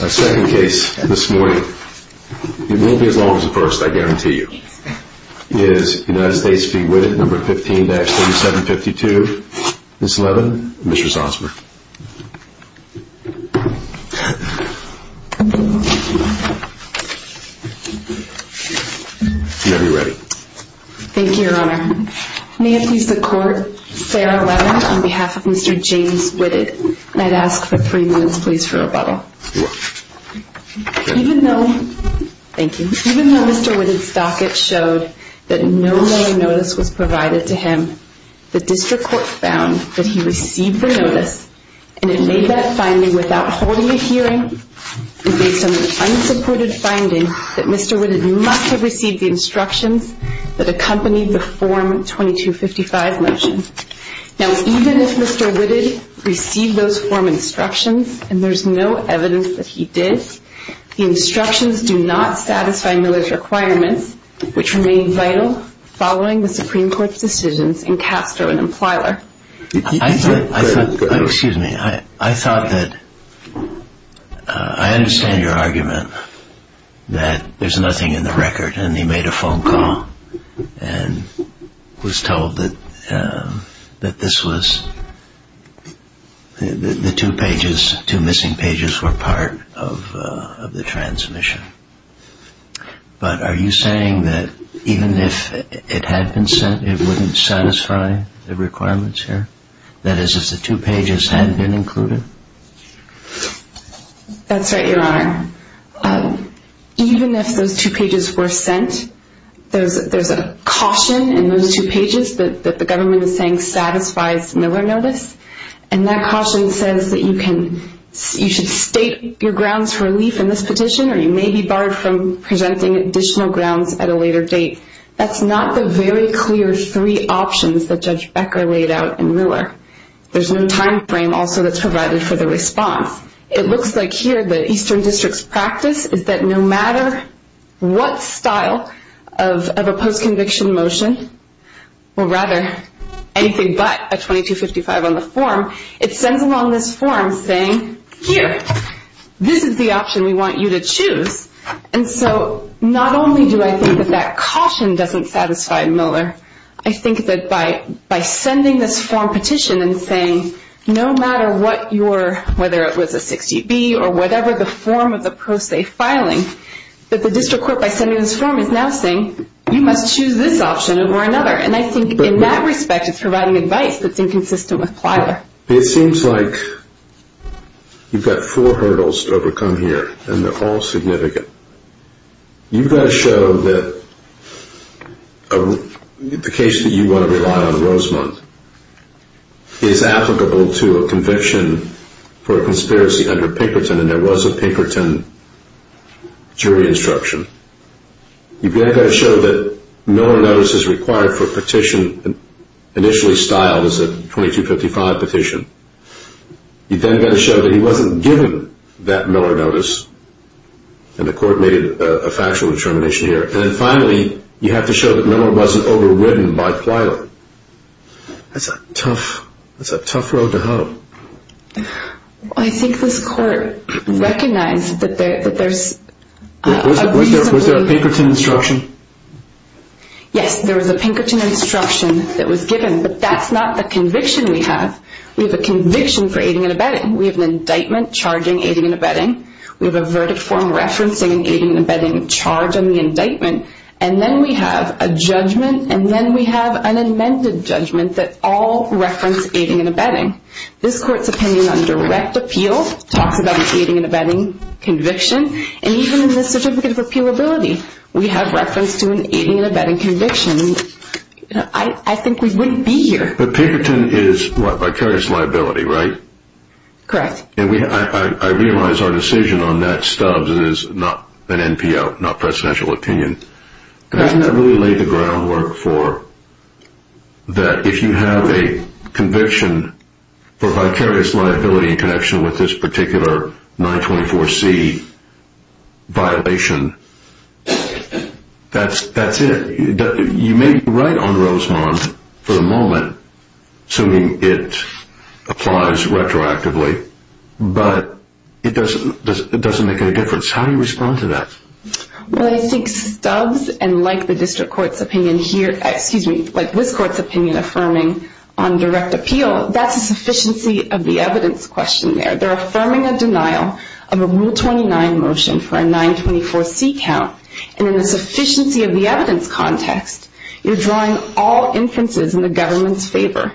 Our second case this morning, it won't be as long as the first I guarantee you, is United States v. Whitted, No. 15-3752, Ms. Levin and Mr. Zossmer. You may be ready. Thank you, Your Honor. May it please the Court, Sarah Levin on behalf of Mr. James Whitted. And I'd ask for three minutes please for rebuttal. Even though, thank you, even though Mr. Whitted's docket showed that no other notice was provided to him, the district court found that he received the notice and it made that finding without holding a hearing. It made some unsupported finding that Mr. Whitted must have received the instructions that accompanied the Form 2255 motion. Now even if Mr. Whitted received those form instructions and there's no evidence that he did, the instructions do not satisfy Miller's requirements, which remain vital following the Supreme Court's decisions in Castro and Implier. I thought, excuse me, I thought that, I understand your argument that there's nothing in the record and he made a phone call and was told that this was, the two pages, two missing pages were part of the transmission. But are you saying that even if it had been sent, it wouldn't satisfy the requirements here? That is, if the two pages had been included? That's right, Your Honor. Even if those two pages were sent, there's a caution in those two pages that the government is saying satisfies Miller notice. And that caution says that you should state your grounds for relief in this petition or you may be barred from presenting additional grounds at a later date. That's not the very clear three options that Judge Becker laid out in Miller. There's no time frame also that's provided for the response. It looks like here the Eastern District's practice is that no matter what style of a post-conviction motion, or rather anything but a 2255 on the form, it sends along this form saying, here, this is the option we want you to choose. And so not only do I think that that caution doesn't satisfy Miller, I think that by sending this form petition and saying no matter what your, whether it was a 60B or whatever the form of the pro se filing, that the district court by sending this form is now saying you must choose this option or another. And I think in that respect it's providing advice that's inconsistent with Plyler. It seems like you've got four hurdles to overcome here and they're all significant. You've got to show that the case that you want to rely on, Rosemont, is applicable to a conviction for a conspiracy under Pinkerton and there was a Pinkerton jury instruction. You've got to show that Miller notice is required for a petition initially styled as a 2255 petition. You've then got to show that he wasn't given that Miller notice and the court made a factual determination here. And then finally, you have to show that Miller wasn't overridden by Plyler. That's a tough road to hoe. I think this court recognized that there's a reason to believe... Was there a Pinkerton instruction? Yes, there was a Pinkerton instruction that was given, but that's not the conviction we have. We have a conviction for aiding and abetting. We have an indictment charging aiding and abetting. We have a verdict form referencing an aiding and abetting charge on the indictment. And then we have a judgment and then we have an amended judgment that all reference aiding and abetting. This court's opinion on direct appeal talks about an aiding and abetting conviction. And even in this certificate of appealability, we have reference to an aiding and abetting conviction. I think we wouldn't be here. But Pinkerton is, what, vicarious liability, right? Correct. And I realize our decision on that, Stubbs, is not an NPO, not presidential opinion. Doesn't that really lay the groundwork for that if you have a conviction for vicarious liability in connection with this particular 924C violation, that's it? You may be right on Rosemont for the moment, assuming it applies retroactively, but it doesn't make any difference. How do you respond to that? Well, I think Stubbs, and like the district court's opinion here, excuse me, like this court's opinion affirming on direct appeal, that's a sufficiency of the evidence question there. They're affirming a denial of a Rule 29 motion for a 924C count. And in the sufficiency of the evidence context, you're drawing all inferences in the government's favor,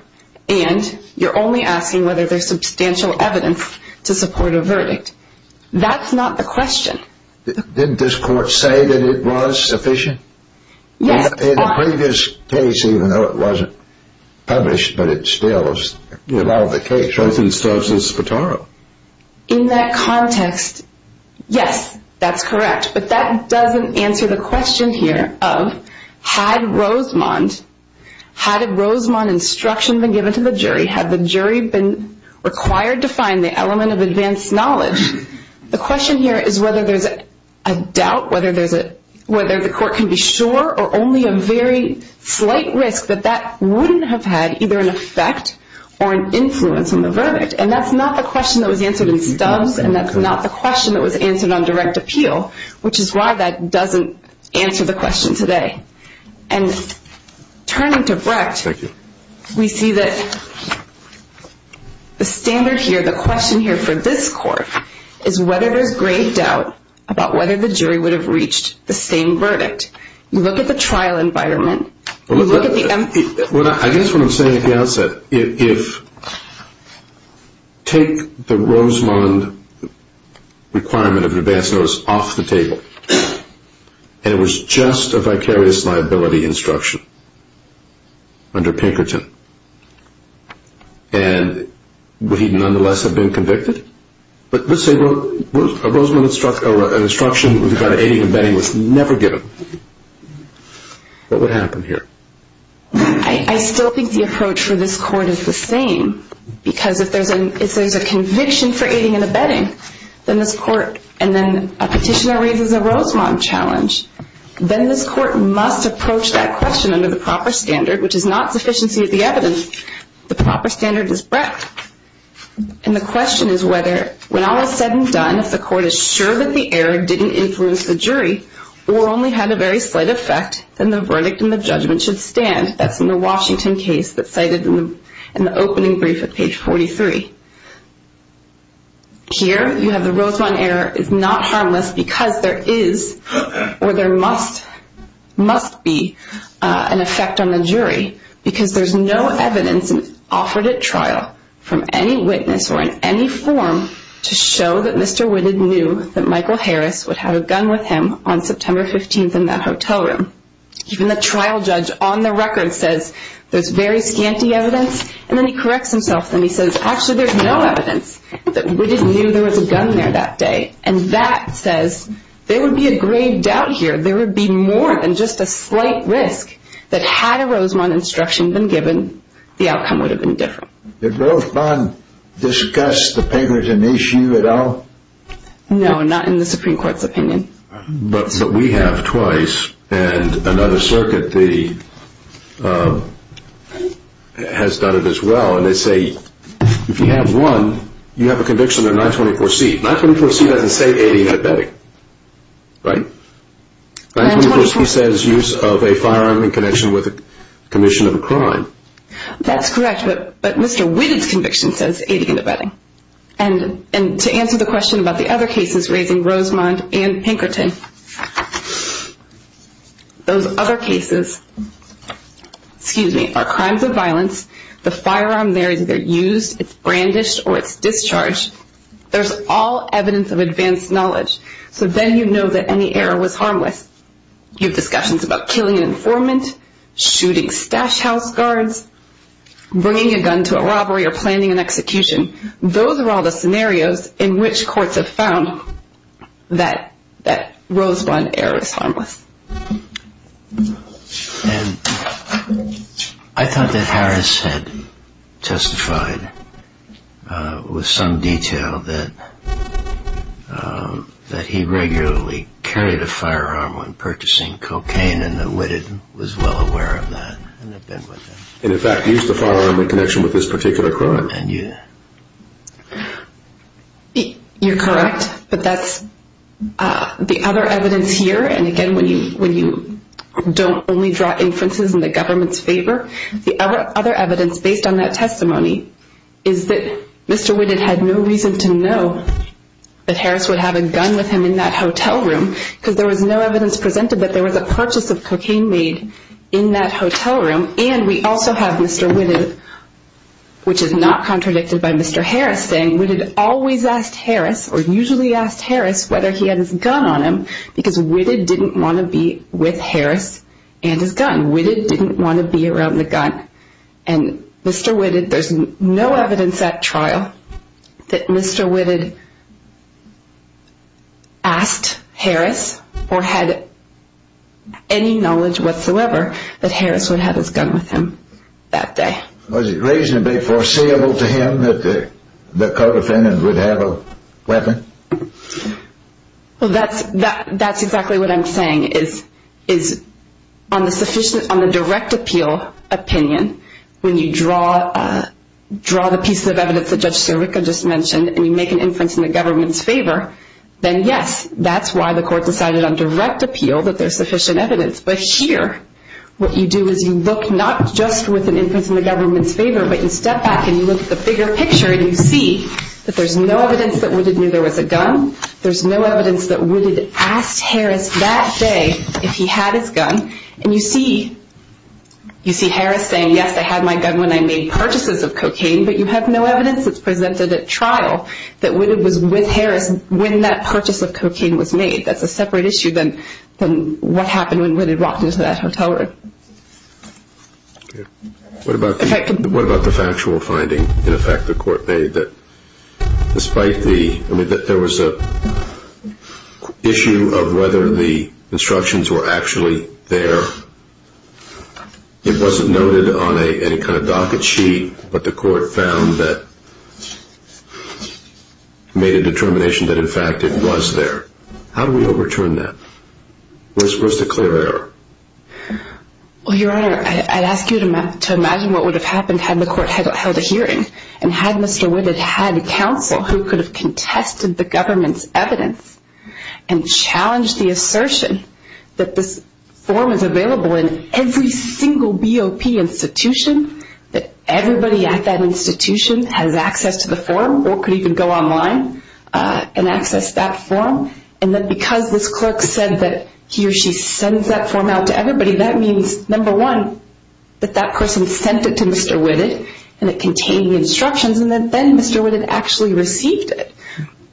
and you're only asking whether there's substantial evidence to support a verdict. That's not the question. Didn't this court say that it was sufficient? Yes. In the previous case, even though it wasn't published, but it still allowed the case. I think Stubbs is the tarot. In that context, yes, that's correct. But that doesn't answer the question here of had Rosemont instruction been given to the jury, had the jury been required to find the element of advanced knowledge, the question here is whether there's a doubt, whether the court can be sure, or only a very slight risk that that wouldn't have had either an effect or an influence on the verdict. And that's not the question that was answered in Stubbs, and that's not the question that was answered on direct appeal, which is why that doesn't answer the question today. And turning to Brecht, we see that the standard here, the question here for this court, is whether there's great doubt about whether the jury would have reached the same verdict. You look at the trial environment. I guess what I'm saying at the outset, if take the Rosemont requirement of advanced notice off the table, and it was just a vicarious liability instruction under Pinkerton, and would he nonetheless have been convicted? But let's say an instruction regarding aiding and abetting was never given. What would happen here? I still think the approach for this court is the same, because if there's a conviction for aiding and abetting, and then a petitioner raises a Rosemont challenge, then this court must approach that question under the proper standard, which is not sufficiency of the evidence. The proper standard is Brecht. And the question is whether, when all is said and done, if the court is sure that the error didn't influence the jury, or only had a very slight effect, then the verdict and the judgment should stand. That's in the Washington case that's cited in the opening brief at page 43. Here you have the Rosemont error is not harmless, because there is or there must be an effect on the jury, because there's no evidence offered at trial from any witness or in any form to show that Mr. Witted knew that Michael Harris would have a gun with him on September 15th in that hotel room. Even the trial judge on the record says there's very scanty evidence, and then he corrects himself and he says, actually there's no evidence that Witted knew there was a gun there that day. And that says there would be a grave doubt here. There would be more than just a slight risk that had a Rosemont instruction been given, the outcome would have been different. Did Rosemont discuss the paper as an issue at all? No, not in the Supreme Court's opinion. But we have twice, and another circuit has done it as well, and they say if you have one, you have a conviction of 924C. 924C doesn't say any diabetic, right? 924C says use of a firearm in connection with a commission of a crime. That's correct, but Mr. Witted's conviction says 80 in the bedding. And to answer the question about the other cases, raising Rosemont and Pinkerton, those other cases are crimes of violence. The firearm there is either used, it's brandished, or it's discharged. There's all evidence of advanced knowledge. So then you know that any error was harmless. You have discussions about killing an informant, shooting stash house guards, bringing a gun to a robbery or planning an execution. Those are all the scenarios in which courts have found that Rosemont error is harmless. And I thought that Harris had testified with some detail that he regularly carried a firearm when purchasing cocaine, and that Witted was well aware of that. And, in fact, used a firearm in connection with this particular crime. You're correct, but that's the other evidence here. And, again, when you don't only draw inferences in the government's favor, the other evidence based on that testimony is that Mr. Witted had no reason to know that Harris would have a gun with him in that hotel room because there was no evidence presented that there was a purchase of cocaine made in that hotel room. And we also have Mr. Witted, which is not contradicted by Mr. Harris, saying Witted always asked Harris or usually asked Harris whether he had his gun on him because Witted didn't want to be with Harris and his gun. Witted didn't want to be around the gun. And Mr. Witted, there's no evidence at trial that Mr. Witted asked Harris or had any knowledge whatsoever that Harris would have his gun with him that day. Was it reasonably foreseeable to him that the co-defendant would have a weapon? Well, that's exactly what I'm saying, is on the direct appeal opinion, when you draw the piece of evidence that Judge Sirica just mentioned and you make an inference in the government's favor, then, yes, that's why the court decided on direct appeal that there's sufficient evidence. But here, what you do is you look not just with an inference in the government's favor, but you step back and you look at the bigger picture and you see that there's no evidence that Witted knew there was a gun. There's no evidence that Witted asked Harris that day if he had his gun. And you see Harris saying, yes, I had my gun when I made purchases of cocaine, but you have no evidence that's presented at trial that Witted was with Harris when that purchase of cocaine was made. That's a separate issue than what happened when Witted walked into that hotel room. Okay. What about the factual finding, in effect, the court made, that despite the issue of whether the instructions were actually there, it wasn't noted on any kind of docket sheet, but the court found that it made a determination that, in fact, it was there. How do we overturn that? Where's the clear error? Well, Your Honor, I'd ask you to imagine what would have happened had the court held a hearing and had Mr. Witted had counsel who could have contested the government's evidence and challenged the assertion that this form is available in every single BOP institution, that everybody at that institution has access to the form or could even go online and access that form, and that because this clerk said that he or she sends that form out to everybody, that means, number one, that that person sent it to Mr. Witted and it contained the instructions, and then Mr. Witted actually received it.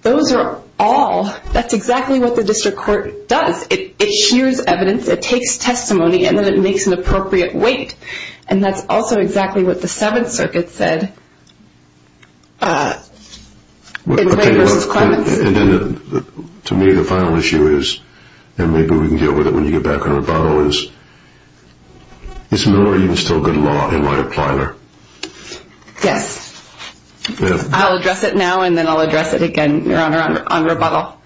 Those are all, that's exactly what the district court does. It hears evidence, it takes testimony, and then it makes an appropriate weight, and that's also exactly what the Seventh Circuit said in Witt v. Clements. And then, to me, the final issue is, and maybe we can deal with it when you get back on rebuttal, is it's not even still good law in light of Plyler. Yes. I'll address it now and then I'll address it again, Your Honor, on rebuttal.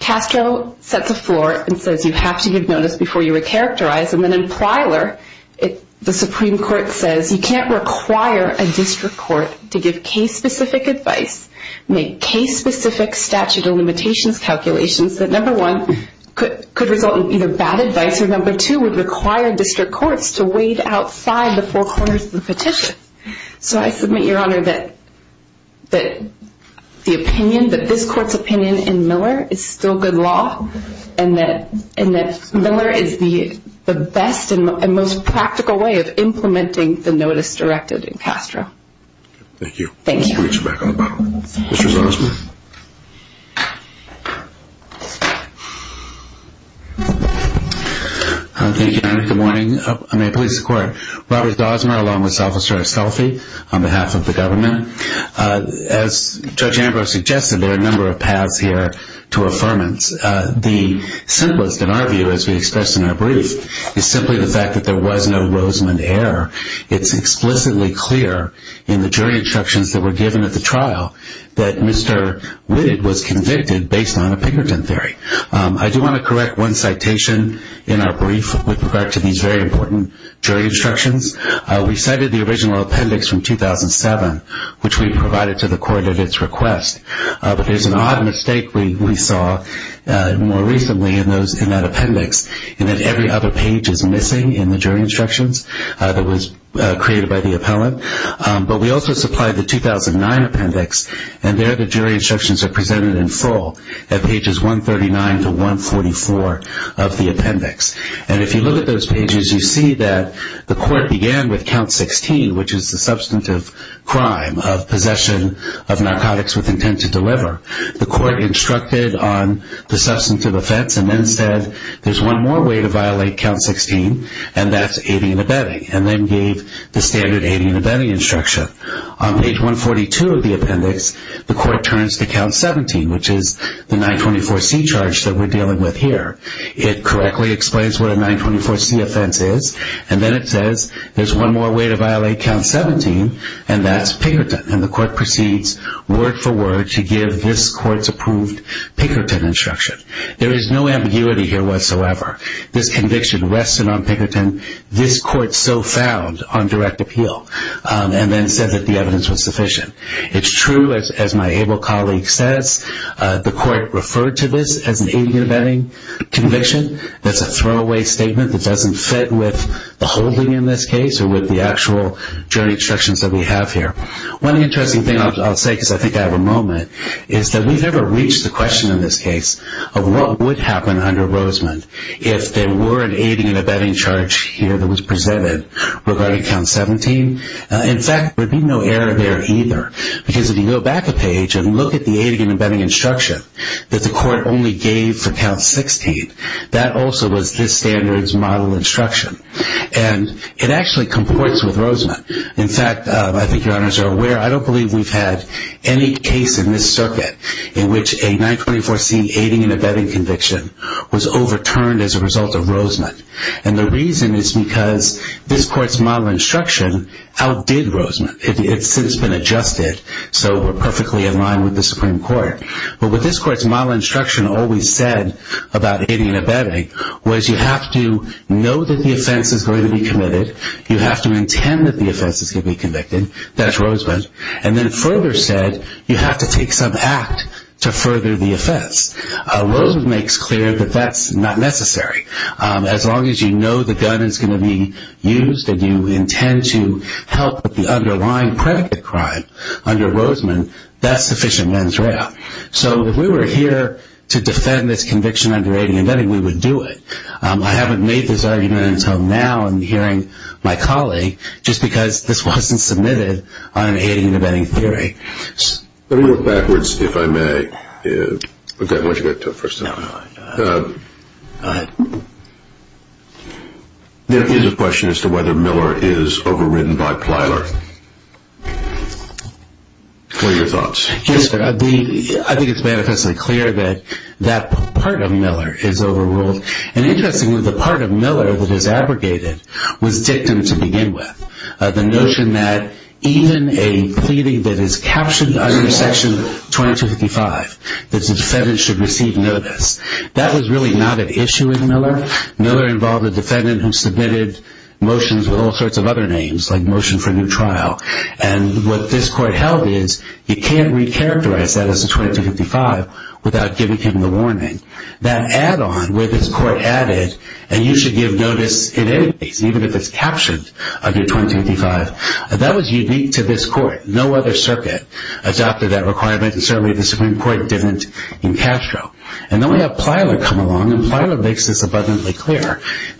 Castro sets a floor and says you have to give notice before you recharacterize, and then in Plyler, the Supreme Court says you can't require a district court to give case-specific advice, make case-specific statute of limitations calculations that, number one, could result in either bad advice, or number two, would require district courts to wait outside the four corners of the petition. So I submit, Your Honor, that the opinion, that this court's opinion in Miller is still good law and that Miller is the best and most practical way of implementing the notice directed in Castro. Thank you. Thank you. We'll get you back on rebuttal. Thank you. Mr. Zosmar. Thank you, Your Honor. Good morning. I'm a police reporter. Robert Zosmar, along with Officer Estolfi, on behalf of the government. As Judge Ambrose suggested, there are a number of paths here to affirmance. The simplest, in our view, as we expressed in our brief, is simply the fact that there was no Rosamond error. It's explicitly clear in the jury instructions that were given at the trial that Mr. Wittig was convicted based on a Pinkerton theory. I do want to correct one citation in our brief with regard to these very important jury instructions. We cited the original appendix from 2007, which we provided to the court at its request. But there's an odd mistake we saw more recently in that appendix, in that every other page is missing in the jury instructions that was created by the appellant. But we also supplied the 2009 appendix, and there the jury instructions are presented in full at pages 139 to 144 of the appendix. And if you look at those pages, you see that the court began with count 16, which is the substantive crime of possession of narcotics with intent to deliver. The court instructed on the substantive offense and then said, there's one more way to violate count 16, and that's aiding and abetting, and then gave the standard aiding and abetting instruction. On page 142 of the appendix, the court turns to count 17, which is the 924C charge that we're dealing with here. It correctly explains what a 924C offense is, and then it says, there's one more way to violate count 17, and that's Pinkerton. And the court proceeds word for word to give this court's approved Pinkerton instruction. There is no ambiguity here whatsoever. This conviction rested on Pinkerton. This court so found on direct appeal and then said that the evidence was sufficient. It's true, as my able colleague says, the court referred to this as an aiding and abetting conviction. That's a throwaway statement that doesn't fit with the holding in this case or with the actual jury instructions that we have here. One interesting thing I'll say, because I think I have a moment, is that we've never reached the question in this case of what would happen under Rosemond if there were an aiding and abetting charge here that was presented regarding count 17. In fact, there would be no error there either, because if you go back a page and look at the aiding and abetting instruction that the court only gave for count 16, that also was this standard's model instruction. And it actually comports with Rosemond. In fact, I think your honors are aware, I don't believe we've had any case in this circuit in which a 924C aiding and abetting conviction was overturned as a result of Rosemond. And the reason is because this court's model instruction outdid Rosemond. It's been adjusted so we're perfectly in line with the Supreme Court. But what this court's model instruction always said about aiding and abetting was you have to know that the offense is going to be committed. You have to intend that the offense is going to be convicted. That's Rosemond. And then further said, you have to take some act to further the offense. Rosemond makes clear that that's not necessary. As long as you know the gun is going to be used and you intend to help with the underlying predicate crime under Rosemond, that's sufficient mens rea. So if we were here to defend this conviction under aiding and abetting, we would do it. I haven't made this argument until now in hearing my colleague just because this wasn't submitted on an aiding and abetting theory. Let me look backwards, if I may. Go ahead. There is a question as to whether Miller is overridden by Plyler. What are your thoughts? I think it's manifestly clear that that part of Miller is overruled. And interestingly, the part of Miller that is abrogated was dictum to begin with. The notion that even a pleading that is captured under Section 2255, that the defendant should receive notice, that was really not an issue in Miller. Miller involved a defendant who submitted motions with all sorts of other names, like motion for new trial. And what this court held is you can't recharacterize that as a 2255 without giving him the warning. That add-on where this court added, and you should give notice in any case, even if it's captured under 2255, that was unique to this court. No other circuit adopted that requirement, and certainly the Supreme Court didn't in Castro. And then we have Plyler come along, and Plyler makes this abundantly clear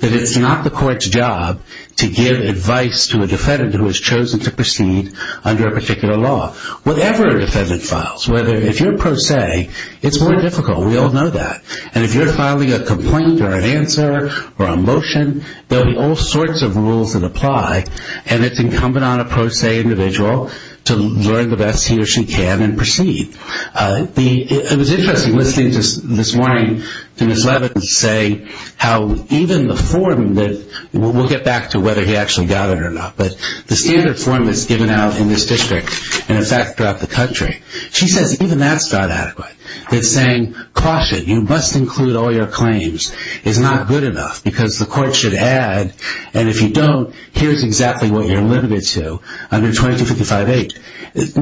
that it's not the court's job to give advice to a defendant who has chosen to proceed under a particular law. Whatever a defendant files, whether if you're pro se, it's more difficult. We all know that. And if you're filing a complaint or an answer or a motion, there will be all sorts of rules that apply, and it's incumbent on a pro se individual to learn the best he or she can and proceed. It was interesting listening this morning to Ms. Leavitt say how even the form, and we'll get back to whether he actually got it or not, but the standard form that's given out in this district and, in fact, throughout the country, she says even that's not adequate. It's saying, caution, you must include all your claims is not good enough because the court should add, and if you don't, here's exactly what you're limited to under 2255-8. Once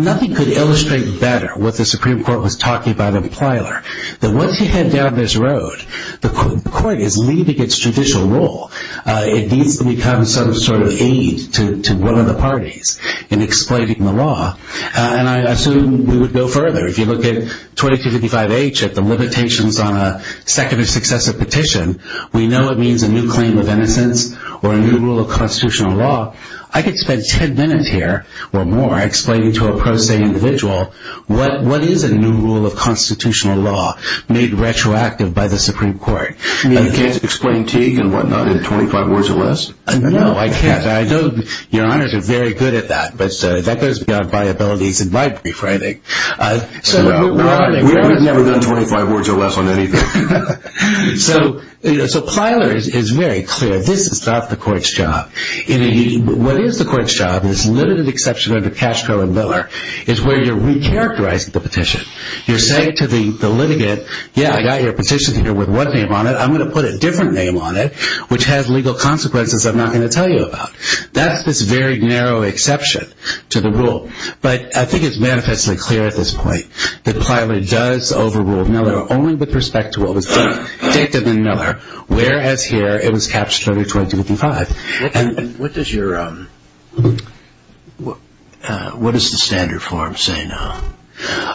you head down this road, the court is leaving its judicial role. It needs to become some sort of aid to one of the parties in explaining the law, and I assume we would go further. If you look at 2255-H, at the limitations on a second successive petition, we know it means a new claim of innocence or a new rule of constitutional law. I could spend 10 minutes here or more explaining to a pro se individual what is a new rule of constitutional law made retroactive by the Supreme Court. You can't explain Teague and whatnot in 25 words or less? No, I can't. Your honors are very good at that, but that goes beyond my abilities in my brief, I think. We've never done 25 words or less on anything. So Plyler is very clear. This is not the court's job. What is the court's job in this limited exception under Cashcrow and Miller is where you're recharacterizing the petition. You're saying to the litigant, yeah, I got your petition here with one name on it. I'm going to put a different name on it, which has legal consequences I'm not going to tell you about. That's this very narrow exception to the rule. But I think it's manifestly clear at this point that Plyler does overrule Miller only with respect to what was dictated in Miller, whereas here it was captured under 25. What does the standard form say now?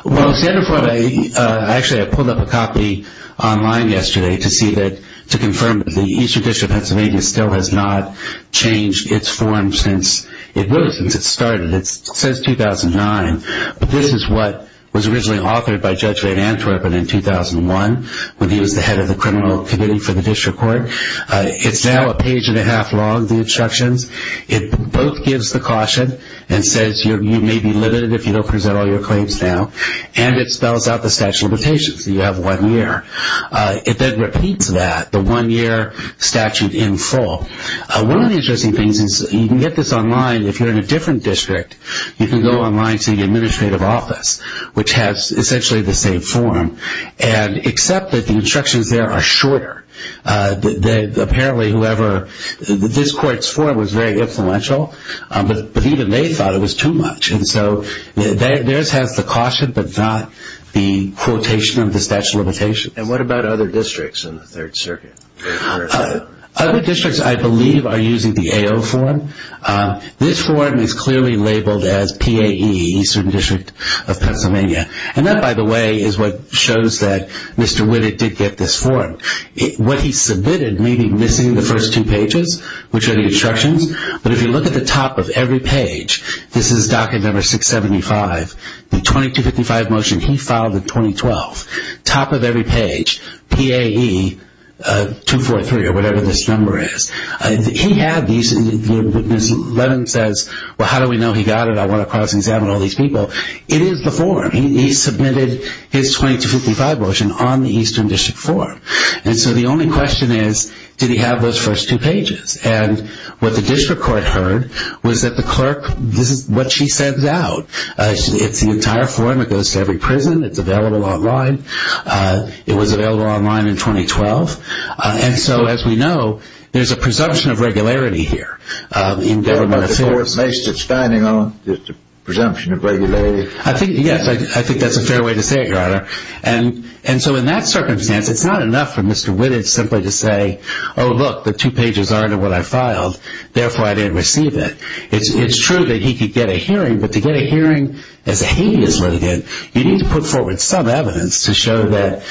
Well, the standard form, actually I pulled up a copy online yesterday to confirm that the Eastern District of Pennsylvania still has not changed its form since it started. It says 2009, but this is what was originally authored by Judge Ray Antwerpen in 2001 when he was the head of the criminal committee for the district court. It's now a page and a half long, the instructions. It both gives the caution and says you may be limited if you don't present all your claims now, and it spells out the statute of limitations. You have one year. It then repeats that, the one-year statute in full. One of the interesting things is you can get this online if you're in a different district. You can go online to the administrative office, which has essentially the same form, and accept that the instructions there are shorter. Apparently whoever, this court's form was very influential, but even they thought it was too much, and so theirs has the caution but not the quotation of the statute of limitations. And what about other districts in the Third Circuit? Other districts, I believe, are using the AO form. This form is clearly labeled as PAE, Eastern District of Pennsylvania, and that, by the way, is what shows that Mr. Whitted did get this form. What he submitted may be missing the first two pages, which are the instructions, but if you look at the top of every page, this is docket number 675, the 2255 motion he filed in 2012. Top of every page, PAE 243 or whatever this number is. He had these, Ms. Levin says, well, how do we know he got it? I want to cross-examine all these people. It is the form. He submitted his 2255 motion on the Eastern District form. And so the only question is, did he have those first two pages? And what the district court heard was that the clerk, this is what she sends out. It's the entire form. It goes to every prison. It's available online. It was available online in 2012. And so, as we know, there's a presumption of regularity here in government affairs. The court may sit standing on the presumption of regularity. I think, yes, I think that's a fair way to say it, Your Honor. And so in that circumstance, it's not enough for Mr. Whitted simply to say, oh, look, the two pages aren't in what I filed, therefore I didn't receive it. It's true that he could get a hearing, but to get a hearing as a heinous litigant, you need to put forward some evidence to show that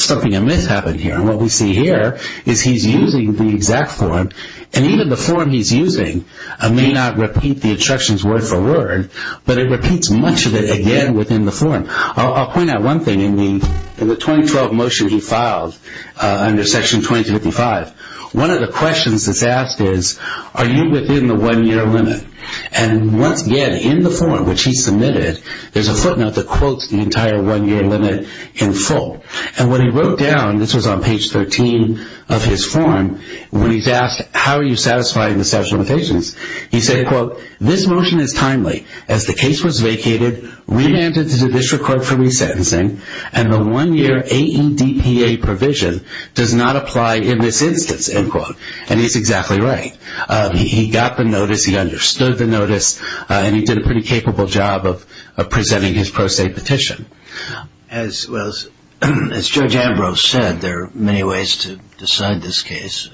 something amiss happened here. And what we see here is he's using the exact form, and even the form he's using may not repeat the instructions word for word, but it repeats much of it again within the form. I'll point out one thing. In the 2012 motion he filed under Section 2255, one of the questions that's asked is, are you within the one-year limit? And once again, in the form which he submitted, there's a footnote that quotes the entire one-year limit in full. And when he wrote down, this was on page 13 of his form, when he's asked, how are you satisfying the statute of limitations, he said, quote, this motion is timely as the case was vacated, remanded to the district court for resentencing, and the one-year AEDPA provision does not apply in this instance, end quote. And he's exactly right. He got the notice, he understood the notice, and he did a pretty capable job of presenting his pro se petition. As Judge Ambrose said, there are many ways to decide this case.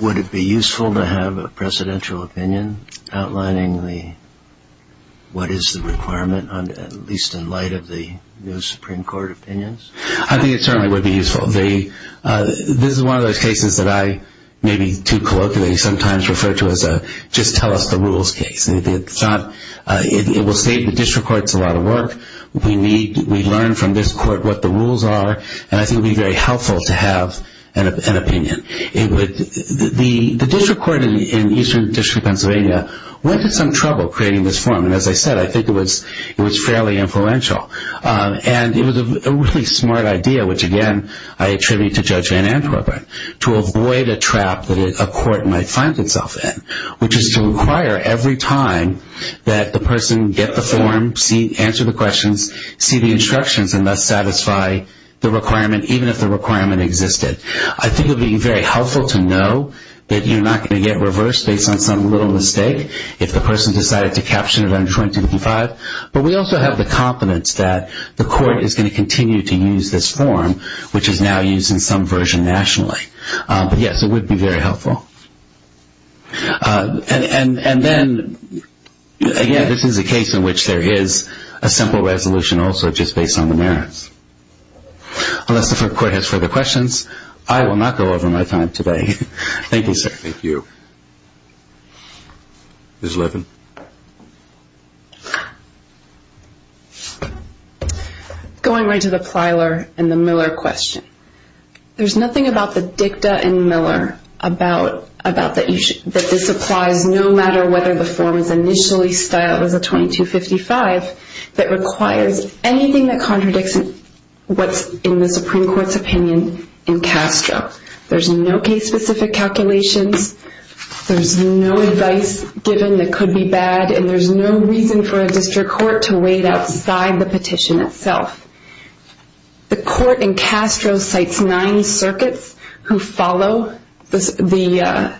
Would it be useful to have a presidential opinion outlining what is the requirement, at least in light of the new Supreme Court opinions? I think it certainly would be useful. This is one of those cases that I maybe too colloquially sometimes refer to as a just tell us the rules case. It will save the district courts a lot of work. We learn from this court what the rules are, and I think it would be very helpful to have an opinion. The district court in Eastern District of Pennsylvania went to some trouble creating this form, and as I said, I think it was fairly influential. And it was a really smart idea, which, again, I attribute to Judge Van Antwerpen, to avoid a trap that a court might find itself in, which is to require every time that the person get the form, answer the questions, see the instructions, and thus satisfy the requirement, even if the requirement existed. I think it would be very helpful to know that you're not going to get reversed based on some little mistake if the person decided to caption it under 2055. But we also have the confidence that the court is going to continue to use this form, which is now used in some version nationally. But, yes, it would be very helpful. And then, again, this is a case in which there is a simple resolution also just based on the merits. Unless the court has further questions, I will not go over my time today. Thank you, sir. Thank you. Ms. Levin. Thank you. Going right to the Plyler and the Miller question. There's nothing about the dicta in Miller that this applies no matter whether the form is initially styled as a 2255 that requires anything that contradicts what's in the Supreme Court's opinion in Castro. There's no case-specific calculations. There's no advice given that could be bad. And there's no reason for a district court to wait outside the petition itself. The court in Castro cites nine circuits who follow the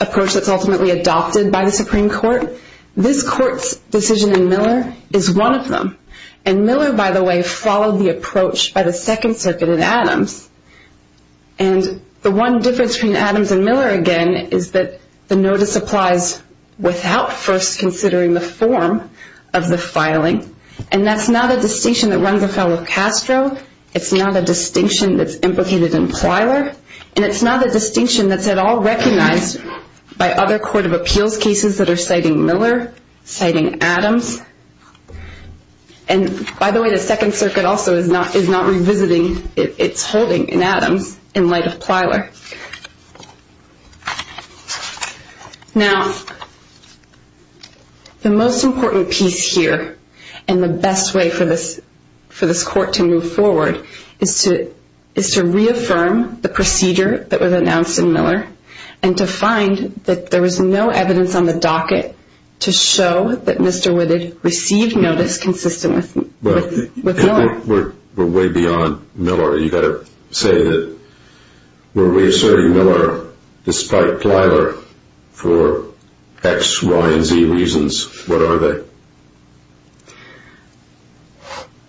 approach that's ultimately adopted by the Supreme Court. This court's decision in Miller is one of them. And Miller, by the way, followed the approach by the Second Circuit in Adams. And the one difference between Adams and Miller, again, is that the notice applies without first considering the form of the filing. And that's not a distinction that runs afoul of Castro. It's not a distinction that's implicated in Plyler. And it's not a distinction that's at all recognized by other court of appeals cases that are citing Miller, citing Adams. And, by the way, the Second Circuit also is not revisiting its holding in Adams in light of Plyler. Now, the most important piece here and the best way for this court to move forward is to reaffirm the procedure that was announced in Miller and to find that there was no evidence on the docket to show that Mr. Woodard received notice consistent with Miller. We're way beyond Miller. You've got to say that we're reasserting Miller despite Plyler for X, Y, and Z reasons. What are they?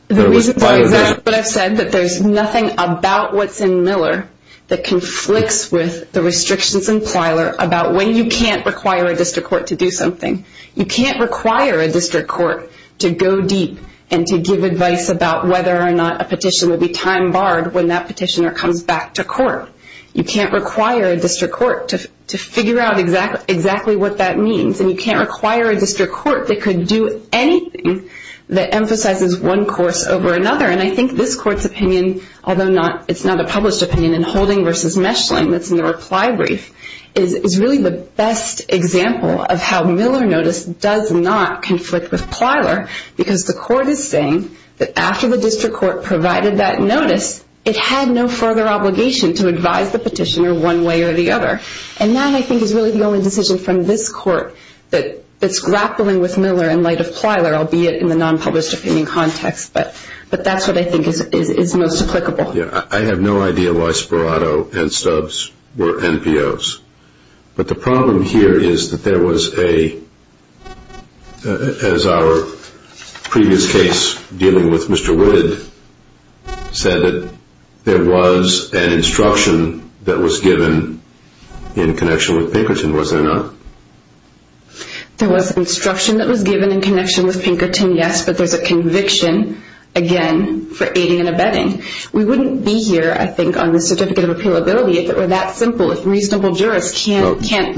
The reasons are exactly what I've said, that there's nothing about what's in Miller that conflicts with the restrictions in Plyler about when you can't require a district court to do something. You can't require a district court to go deep and to give advice about whether or not a petition will be time barred when that petitioner comes back to court. You can't require a district court to figure out exactly what that means. And you can't require a district court that could do anything that emphasizes one course over another. And I think this court's opinion, although it's not a published opinion, in Holding v. Meshling, that's in the reply brief, is really the best example of how Miller notice does not conflict with Plyler because the court is saying that after the district court provided that notice, it had no further obligation to advise the petitioner one way or the other. And that, I think, is really the only decision from this court that's grappling with Miller in light of Plyler, albeit in the non-published opinion context. But that's what I think is most applicable. I have no idea why Sperato and Stubbs were NPOs. But the problem here is that there was a, as our previous case dealing with Mr. Wood said, that there was an instruction that was given in connection with Pinkerton. Was there not? There was instruction that was given in connection with Pinkerton, yes, but there's a conviction, again, for aiding and abetting. We wouldn't be here, I think, on the certificate of appealability if it were that simple, if reasonable jurists can't decide.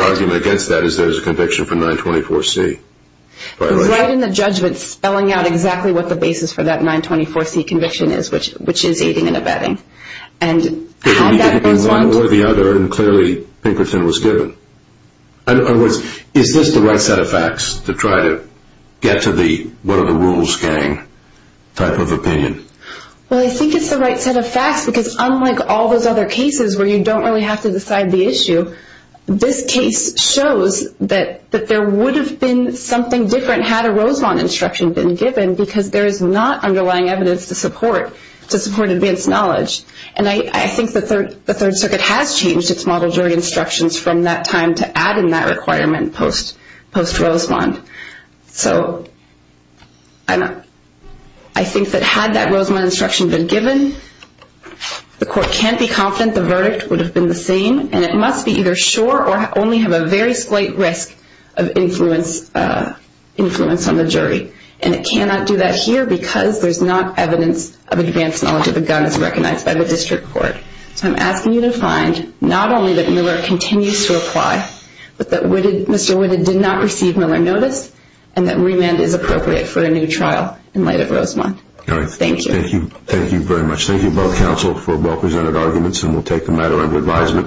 The argument against that is there's a conviction for 924C violation. It's right in the judgment spelling out exactly what the basis for that 924C conviction is, which is aiding and abetting. And had that been one or the other, and clearly Pinkerton was given. In other words, is this the right set of facts to try to get to the what are the rules gang type of opinion? Well, I think it's the right set of facts because unlike all those other cases where you don't really have to decide the issue, this case shows that there would have been something different had a Rosemont instruction been given because there is not underlying evidence to support advanced knowledge. And I think the Third Circuit has changed its model jury instructions from that time to add in that requirement post-Rosemont. So I think that had that Rosemont instruction been given, the court can't be confident the verdict would have been the same, and it must be either sure or only have a very slight risk of influence on the jury. And it cannot do that here because there's not evidence of advanced knowledge of the guns recognized by the district court. So I'm asking you to find not only that Miller continues to apply, but that Mr. Woodard did not receive Miller notice, and that remand is appropriate for a new trial in light of Rosemont. Thank you. Thank you. Thank you very much. Thank you both counsel for well-presented arguments, and we'll take the matter into advisement.